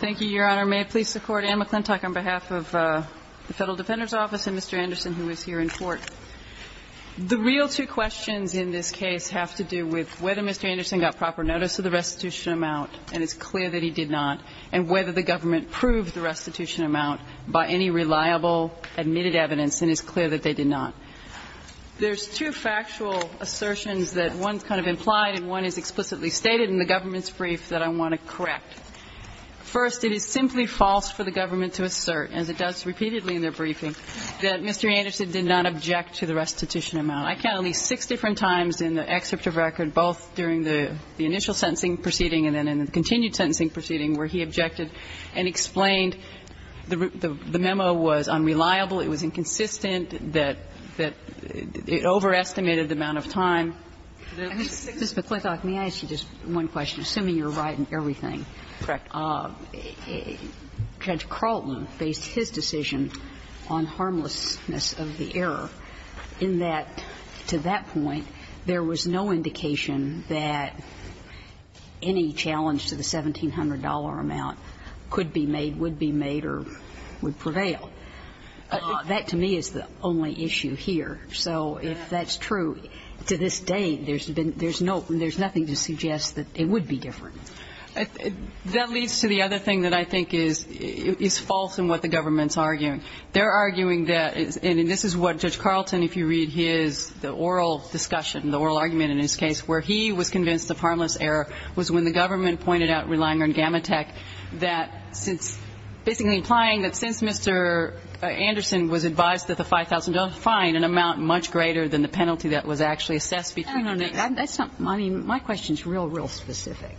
Thank you, Your Honor. May I please support Anne McClintock on behalf of the Federal Defender's Office and Mr. Anderson, who is here in court? The real two questions in this case have to do with whether Mr. Anderson got proper notice of the restitution amount, and it's clear that he did not, and whether the government proved the restitution amount by any reliable admitted evidence, and it's clear that they did not. There's two factual assertions that one's kind of implied and one is explicitly stated in the government's brief that I want to correct. First, it is simply false for the government to assert, as it does repeatedly in their briefing, that Mr. Anderson did not object to the restitution amount. I count at least six different times in the excerpt of record, both during the initial sentencing proceeding and then in the continued sentencing proceeding, where he objected and explained the memo was unreliable, it was inconsistent, that it overestimated the amount of time. Ms. McClintock, may I ask you just one question, assuming you're right in everything? Correct. Judge Carlton based his decision on harmlessness of the error in that, to that point, there was no indication that any challenge to the $1,700 amount could be made, would be made, or would prevail. That, to me, is the only issue here. So if that's true, to this day, there's been no ‑‑ there's nothing to suggest that it would be different. That leads to the other thing that I think is false in what the government's arguing. They're arguing that ‑‑ and this is what Judge Carlton, if you read his, the oral discussion, the oral argument in his case, where he was convinced of harmless error was when the government pointed out, relying on Gamma Tech, that since ‑‑ basically implying that since Mr. Anderson was advised that the $5,000 was fine, an amount much greater than the penalty that was actually assessed between the two. That's not ‑‑ I mean, my question is real, real specific.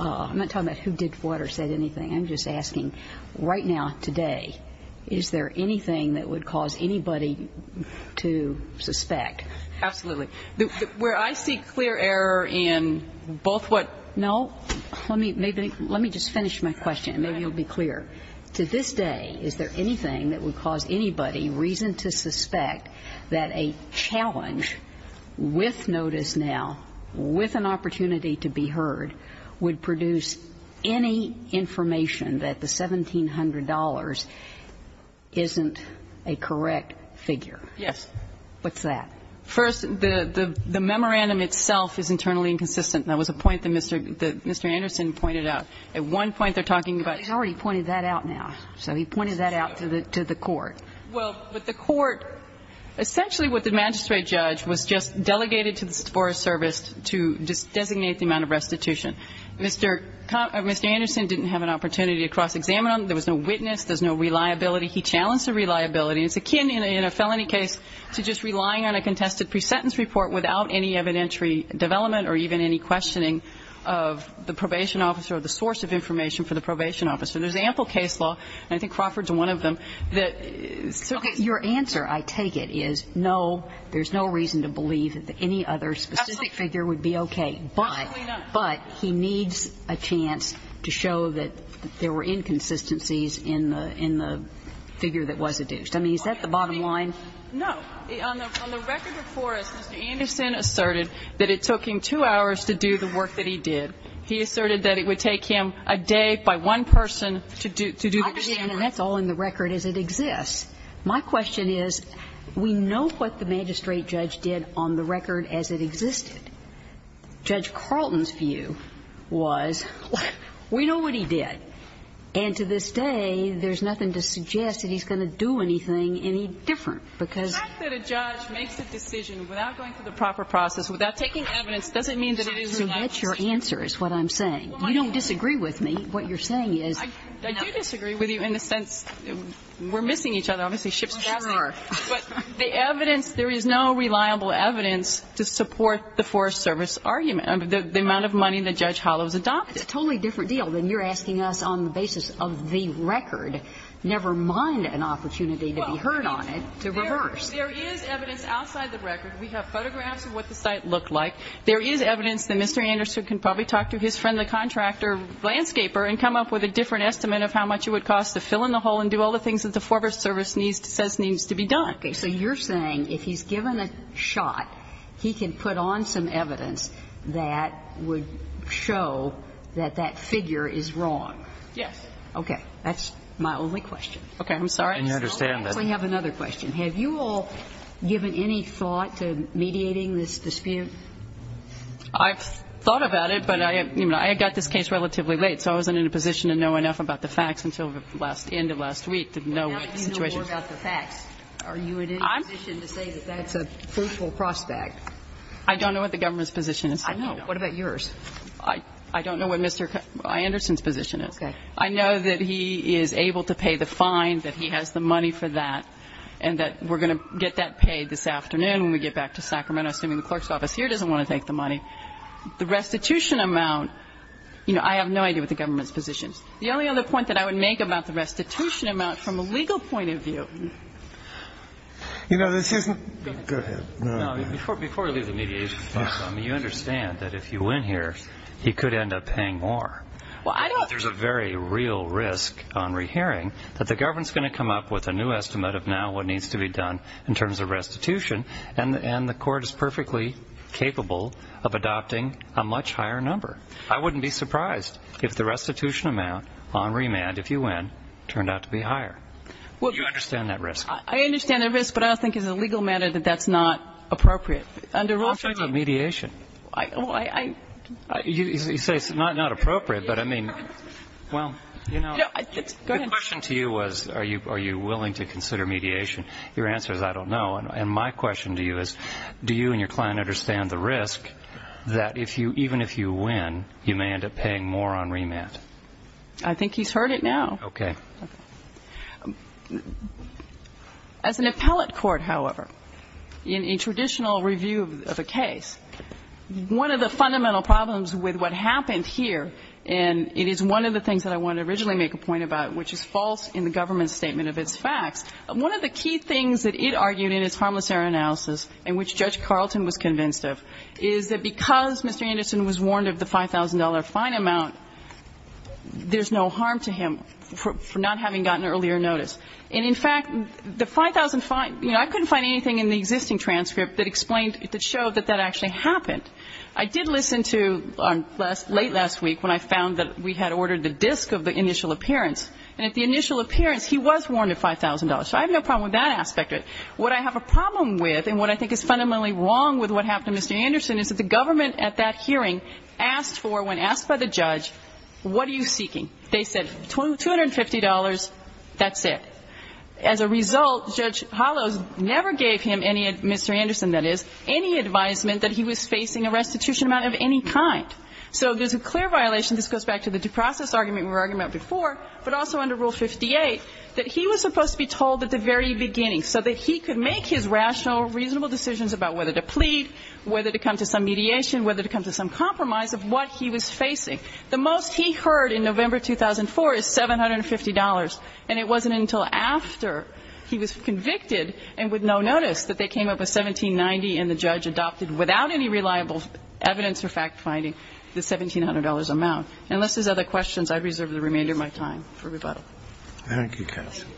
I'm not talking about who did what or said anything. I'm just asking, right now, today, is there anything that would cause anybody to suspect? Absolutely. Where I see clear error in both what ‑‑ No. Let me just finish my question, and maybe you'll be clear. To this day, is there anything that would cause anybody reason to suspect that a challenge with notice now, with an opportunity to be heard, would produce any information that the $1,700 isn't a correct figure? Yes. What's that? First, the memorandum itself is internally inconsistent. That was a point that Mr. Anderson pointed out. At one point, they're talking about ‑‑ He's already pointed that out now. So he pointed that out to the court. Well, with the court, essentially what the magistrate judge was just delegated to the Forest Service to designate the amount of restitution. Mr. Anderson didn't have an opportunity to cross-examine them. There was no witness. There's no reliability. He challenged the reliability. It's akin in a felony case to just relying on a contested pre-sentence report without any evidentiary development or even any questioning of the probation officer or the source of information for the probation officer. There's ample case law, and I think Crawford's one of them, that ‑‑ Okay. Your answer, I take it, is no, there's no reason to believe that any other specific figure would be okay. Absolutely not. But he needs a chance to show that there were inconsistencies in the figure that was adduced. I mean, is that the bottom line? No. On the record of Forrest, Mr. Anderson asserted that it took him two hours to do the work that he did. He asserted that it would take him a day by one person to do the work. And that's all in the record as it exists. My question is, we know what the magistrate judge did on the record as it existed. Judge Carlton's view was, we know what he did. And to this day, there's nothing to suggest that he's going to do anything any different, because ‑‑ The fact that a judge makes a decision without going through the proper process, without taking evidence, doesn't mean that it is ‑‑ So that's your answer is what I'm saying. You don't disagree with me. What you're saying is ‑‑ I do disagree with you in the sense we're missing each other. Obviously, ship's passing. Sure. But the evidence, there is no reliable evidence to support the Forrest Service argument, the amount of money that Judge Hollows adopted. It's a totally different deal than you're asking us on the basis of the record, never mind an opportunity to be heard on it, to reverse. There is evidence outside the record. We have photographs of what the site looked like. There is evidence that Mr. Anderson can probably talk to his friend, the contractor, landscaper, and come up with a different estimate of how much it would cost to fill in the hole and do all the things that the Forrest Service says needs to be done. Okay. So you're saying if he's given a shot, he can put on some evidence that would show that that figure is wrong. Yes. Okay. That's my only question. Okay. I'm sorry. And you understand that. I have another question. Have you all given any thought to mediating this dispute? I've thought about it, but I got this case relatively late, so I wasn't in a position to know enough about the facts until the end of last week to know what the situation was. But now that you know more about the facts, are you in any position to say that that's a fruitful prospect? I don't know what the government's position is. I know. What about yours? I don't know what Mr. Anderson's position is. Okay. I know that he is able to pay the fine, that he has the money for that, and that we're going to get that paid this afternoon when we get back to Sacramento, assuming the clerk's office here doesn't want to take the money. The restitution amount, you know, I have no idea what the government's position is. The only other point that I would make about the restitution amount from a legal point of view... You know, this isn't... Go ahead. Go ahead. Before I leave the mediation, you understand that if you win here, he could end up paying more. Well, I don't... There's a very real risk on rehearing that the government's going to come up with a new estimate of now what needs to be done in terms of restitution, and the court is perfectly capable of adopting a much higher number. I wouldn't be surprised if the restitution amount on remand, if you win, turned out to be higher. You understand that risk. I understand that risk, but I don't think as a legal matter that that's not appropriate. Under rule... I'm talking about mediation. I... You say it's not appropriate, but I mean... Well, you know... Go ahead. The question to you was are you willing to consider mediation. Your answer is I don't know. And my question to you is do you and your client understand the risk that even if you win, you may end up paying more on remand? I think he's heard it now. Okay. As an appellate court, however, in a traditional review of a case, one of the fundamental problems with what happened here, and it is one of the things that I wanted to originally make a point about, which is false in the government's statement of its facts. One of the key things that it argued in its harmless error analysis, and which Judge Carlton was convinced of, is that because Mr. Anderson was warned of the $5,000 fine amount, there's no harm to him for not having gotten earlier notice. And in fact, the $5,000 fine, you know, I couldn't find anything in the existing transcript that explained, that showed that that actually happened. I did listen to, late last week, when I found that we had ordered the disk of the initial appearance. And at the initial appearance, he was warned of $5,000. So I have no problem with that aspect of it. What I have a problem with, and what I think is fundamentally wrong with what happened to Mr. Anderson, is that the government at that hearing asked for, when asked by the judge, what are you seeking? They said $250, that's it. As a result, Judge Hollows never gave him any, Mr. Anderson, that is, any advisement that he was facing a restitution amount of any kind. So there's a clear violation. This goes back to the due process argument we were arguing about before, but also under Rule 58, that he was supposed to be told at the very beginning, so that he could make his rational, reasonable decisions about whether to plead, whether to come to some mediation, whether to come to some compromise of what he was facing. The most he heard in November 2004 is $750, and it wasn't until after he was convicted and with no notice that they came up with $1,790 and the judge adopted, without any reliable evidence or fact-finding, the $1,700 amount. Unless there's other questions, I reserve the remainder of my time for rebuttal. Thank you, counsel.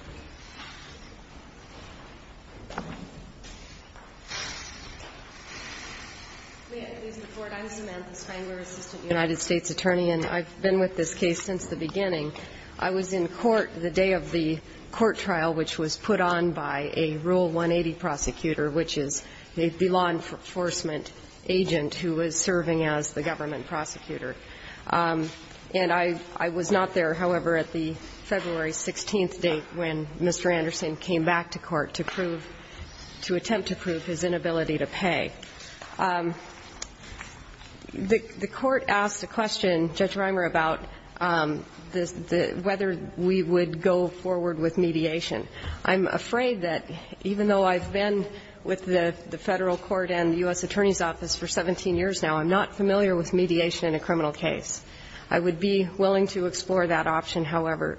I'm Samantha Spangler, assistant United States attorney, and I've been with this case since the beginning. I was in court the day of the court trial, which was put on by a Rule 180 prosecutor, which is the law enforcement agent who was serving as the government prosecutor. And I was not there, however, at the February 16th date when Mr. Anderson came back to court to prove to attempt to prove his inability to pay. The court asked a question, Judge Reimer, about whether we would go forward with mediation. I'm afraid that even though I've been with the Federal court and the U.S. Attorney's Office for 17 years now, I'm not familiar with mediation in a criminal case. I would be willing to explore that option, however,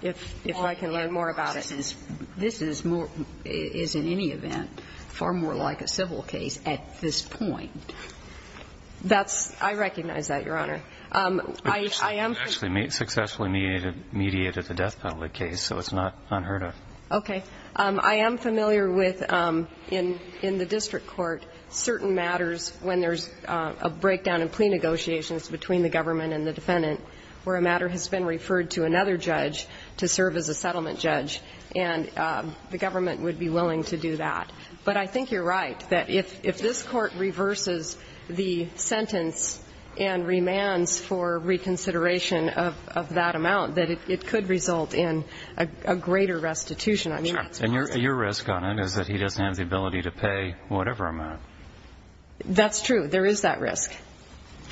if I can learn more about it. This is more ñ is in any event far more like a civil case at this point. That's ñ I recognize that, Your Honor. I am ñ We've actually successfully mediated the death penalty case, so it's not unheard of. Okay. I am familiar with, in the district court, certain matters when there's a breakdown in plea negotiations between the government and the defendant, where a matter has been referred to another judge to serve as a settlement judge, and the government would be willing to do that. But I think you're right, that if this court reverses the sentence and remands for reconsideration of that amount, that it could result in a greater restitution. I mean, that's what I think. Sure. And your risk on it is that he doesn't have the ability to pay whatever amount. That's true. There is that risk.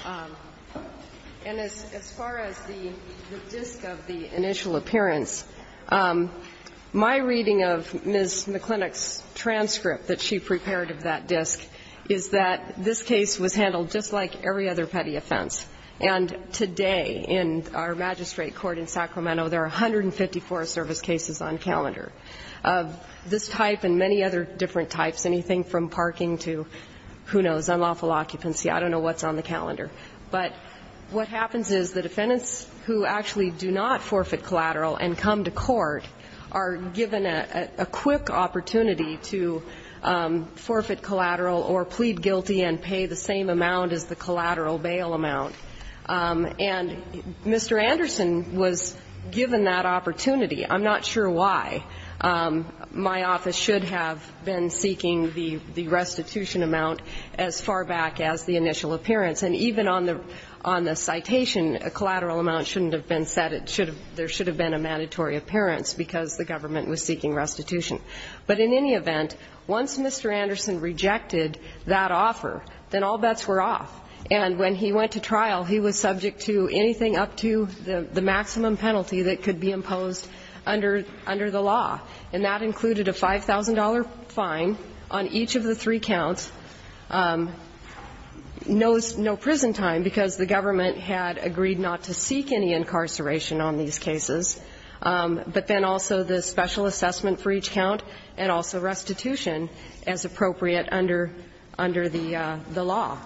And as far as the disc of the initial appearance, my reading of Ms. McLinock's transcript that she prepared of that disc is that this case was handled just like every other petty offense. And today in our magistrate court in Sacramento, there are 154 service cases on calendar of this type and many other different types, anything from parking to, who knows, unlawful occupancy. I don't know what's on the calendar. But what happens is the defendants who actually do not forfeit collateral and come to court are given a quick opportunity to forfeit collateral or plead guilty and have collateral bail amount. And Mr. Anderson was given that opportunity. I'm not sure why. My office should have been seeking the restitution amount as far back as the initial appearance. And even on the citation, a collateral amount shouldn't have been set. There should have been a mandatory appearance because the government was seeking restitution. But in any event, once Mr. Anderson rejected that offer, then all bets were off. And when he went to trial, he was subject to anything up to the maximum penalty that could be imposed under the law. And that included a $5,000 fine on each of the three counts, no prison time because the government had agreed not to seek any incarceration on these cases, but then also the special assessment for each count and also restitution as appropriate under the law.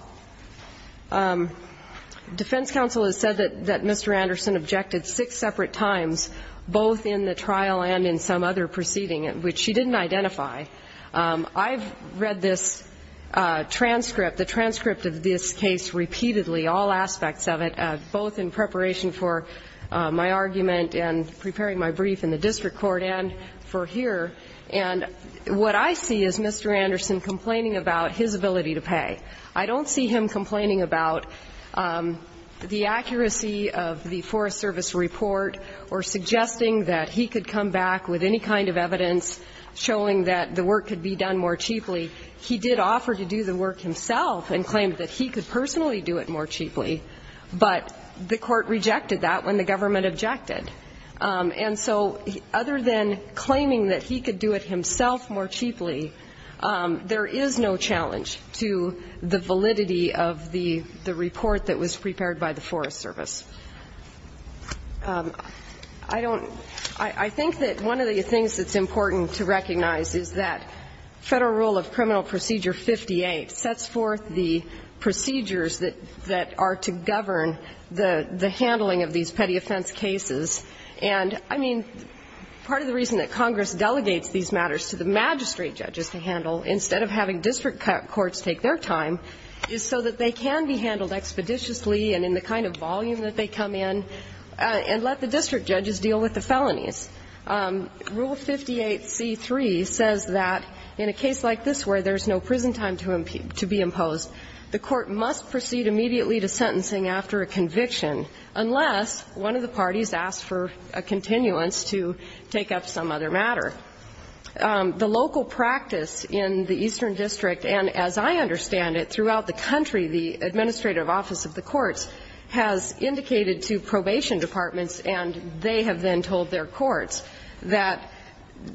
Defense counsel has said that Mr. Anderson objected six separate times, both in the trial and in some other proceeding, which she didn't identify. I've read this transcript, the transcript of this case repeatedly, all aspects of it, both in preparation for my argument and preparing my brief in the district court and for here. And what I see is Mr. Anderson complaining about his ability to pay. I don't see him complaining about the accuracy of the Forest Service report or suggesting that he could come back with any kind of evidence showing that the work could be done more cheaply. He did offer to do the work himself and claimed that he could personally do it more cheaply, but the court rejected that when the government objected. And so other than claiming that he could do it himself more cheaply, there is no challenge to the validity of the report that was prepared by the Forest Service. I don't – I think that one of the things that's important to recognize is that Federal Rule of Criminal Procedure 58 sets forth the procedures that are to govern the handling of these petty offense cases. And, I mean, part of the reason that Congress delegates these matters to the magistrate judges to handle instead of having district courts take their time is so that they can be handled expeditiously and in the kind of volume that they come in and let the district judges deal with the felonies. Rule 58c3 says that in a case like this where there's no prison time to be imposed, the court must proceed immediately to sentencing after a conviction unless one of the parties asks for a continuance to take up some other matter. The local practice in the Eastern District, and as I understand it, throughout the country, the administrative office of the courts has indicated to probation departments, and they have then told their courts, that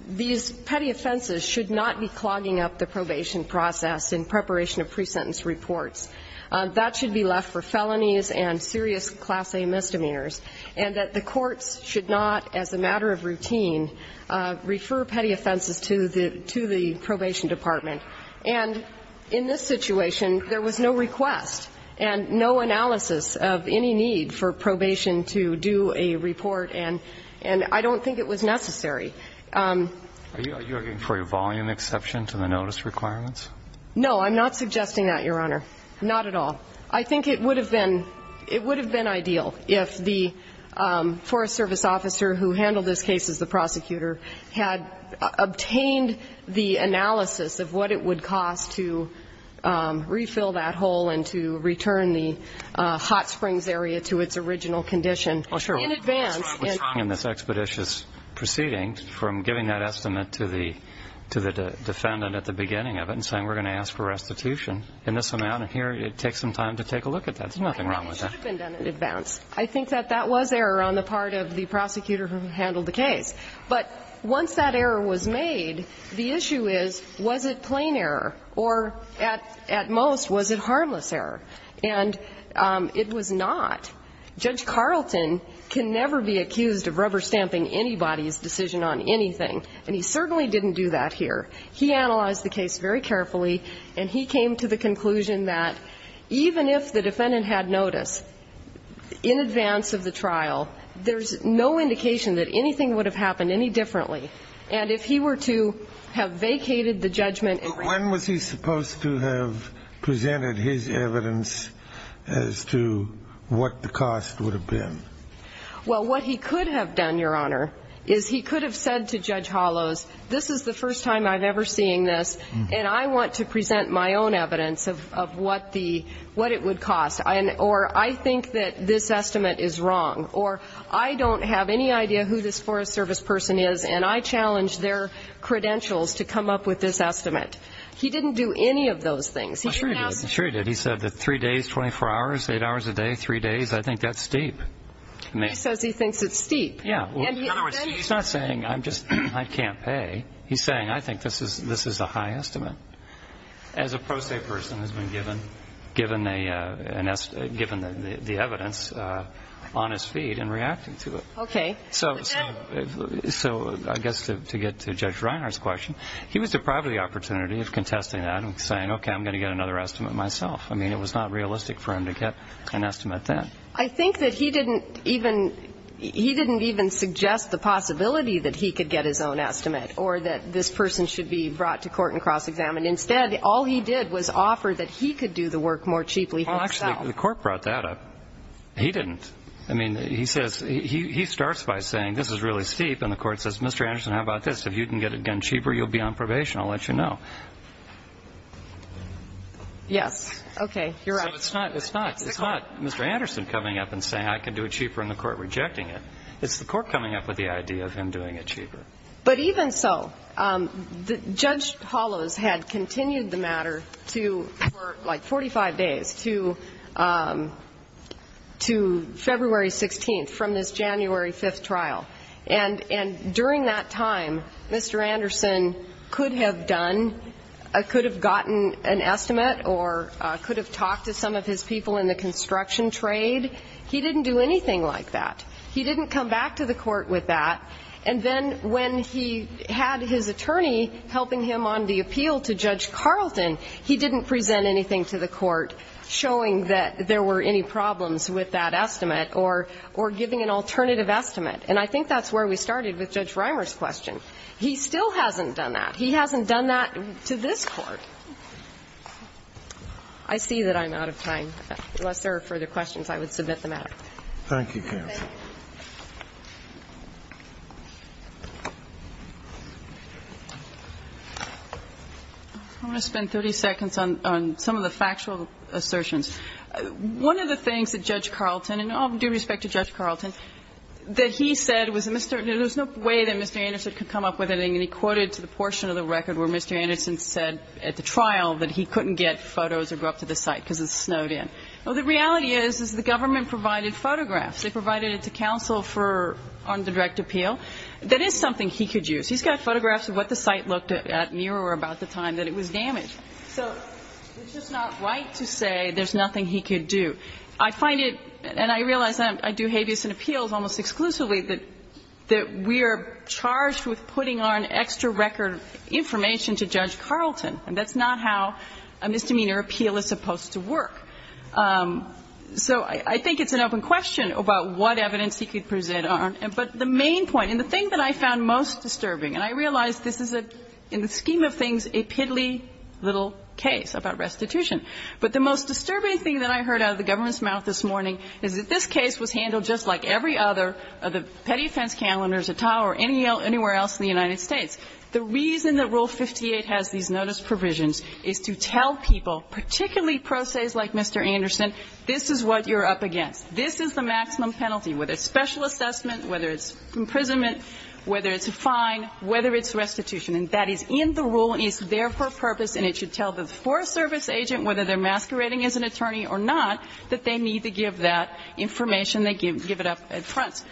these petty offenses should not be clogging up the probation process in preparation of pre-sentence reports. That should be left for felonies and serious Class A misdemeanors, and that the courts should not, as a matter of routine, refer petty offenses to the – to the probation department. And in this situation, there was no request and no analysis of any need for probation to do a report, and I don't think it was necessary. Are you arguing for a volume exception to the notice requirements? No, I'm not suggesting that, Your Honor. Not at all. I think it would have been – it would have been ideal if the Forest Service officer who handled this case as the prosecutor had obtained the analysis of what it would cost to refill that hole and to return the hot springs area to its original condition in advance. But what's wrong in this expeditious proceeding from giving that estimate to the defendant at the beginning of it and saying, we're going to ask for restitution in this amount, and here, it takes some time to take a look at that. There's nothing wrong with that. I think it should have been done in advance. I think that that was error on the part of the prosecutor who handled the case. But once that error was made, the issue is, was it plain error, or at most, was it harmless error? And it was not. Judge Carlton can never be accused of rubber-stamping anybody's decision on anything, and he certainly didn't do that here. He analyzed the case very carefully, and he came to the conclusion that even if the defendant had notice in advance of the trial, there's no indication that anything would have happened any differently. And if he were to have vacated the judgment and raised the charge against the Well, what he could have done, Your Honor, is he could have said to Judge Hollows, this is the first time I'm ever seeing this, and I want to present my own evidence of what the what it would cost, or I think that this estimate is wrong, or I don't have any idea who this Forest Service person is, and I challenge their credentials to come up with this estimate. He didn't do any of those things. He said that three days, 24 hours, eight hours a day, three days, I think that's steep. He says he thinks it's steep. Yeah. In other words, he's not saying I'm just, I can't pay. He's saying I think this is a high estimate as a pro se person has been given the evidence on his feet and reacting to it. Okay. So I guess to get to Judge Reiner's question, he was deprived of the opportunity of contesting that and saying, okay, I'm going to get another estimate myself. I mean, it was not realistic for him to get an estimate then. I think that he didn't even, he didn't even suggest the possibility that he could get his own estimate or that this person should be brought to court and cross-examined. Instead, all he did was offer that he could do the work more cheaply for himself. Well, actually, the court brought that up. He didn't. I mean, he says, he starts by saying this is really steep, and the court says, Mr. Anderson, how about this? If you can get it done cheaper, you'll be on probation. I'll let you know. Yes. Okay. You're right. So it's not Mr. Anderson coming up and saying I can do it cheaper and the court rejecting it. It's the court coming up with the idea of him doing it cheaper. But even so, Judge Hollows had continued the matter to, for like 45 days, to February 16th from this January 5th trial. And during that time, Mr. Anderson could have done, could have gotten an estimate or could have talked to some of his people in the construction trade. He didn't do anything like that. He didn't come back to the court with that. And then when he had his attorney helping him on the appeal to Judge Carlton, he didn't present anything to the court showing that there were any problems with that estimate or giving an alternative estimate. And I think that's where we started with Judge Reimer's question. He still hasn't done that. He hasn't done that to this Court. I see that I'm out of time. Unless there are further questions, I would submit the matter. Thank you, counsel. Thank you. I want to spend 30 seconds on some of the factual assertions. One of the things that Judge Carlton, and all due respect to Judge Carlton, that he said was there was no way that Mr. Anderson could come up with anything. And he quoted to the portion of the record where Mr. Anderson said at the trial that he couldn't get photos or go up to the site because it snowed in. Well, the reality is, is the government provided photographs. They provided it to counsel for, on the direct appeal. That is something he could use. He's got photographs of what the site looked at near or about the time that it was damaged. So it's just not right to say there's nothing he could do. I find it, and I realize I do habeas and appeals almost exclusively, that we are charged with putting on extra record information to Judge Carlton. And that's not how a misdemeanor appeal is supposed to work. So I think it's an open question about what evidence he could present on. But the main point, and the thing that I found most disturbing, and I realize this is a, in the scheme of things, a piddly little case about restitution. But the most disturbing thing that I heard out of the government's mouth this morning is that this case was handled just like every other of the petty offense calendars at all or anywhere else in the United States. The reason that Rule 58 has these notice provisions is to tell people, particularly pro ses like Mr. Anderson, this is what you're up against. This is the maximum penalty, whether it's special assessment, whether it's imprisonment, whether it's a fine, whether it's restitution. And that is in the rule, and it's there for a purpose, and it should tell the Forest Service agent, whether they're masquerading as an attorney or not, that they need to give that information. They give it up at front.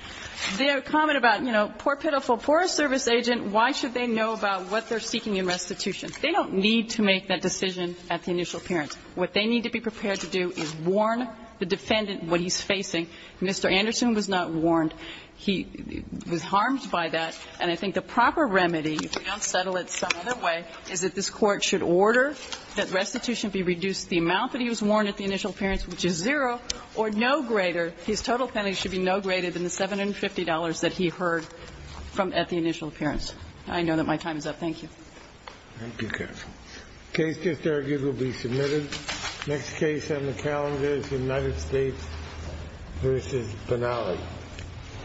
The comment about, you know, poor pitiful Forest Service agent, why should they know about what they're seeking in restitution? They don't need to make that decision at the initial appearance. What they need to be prepared to do is warn the defendant what he's facing. Mr. Anderson was not warned. He was harmed by that. And I think the proper remedy, if we don't settle it some other way, is that this Court should order that restitution be reduced to the amount that he was warned at the initial appearance, which is zero, or no greater. His total penalty should be no greater than the $750 that he heard from at the initial appearance. I know that my time is up. Thank you. The case just argued will be submitted. Next case on the calendar is United States v. Benally.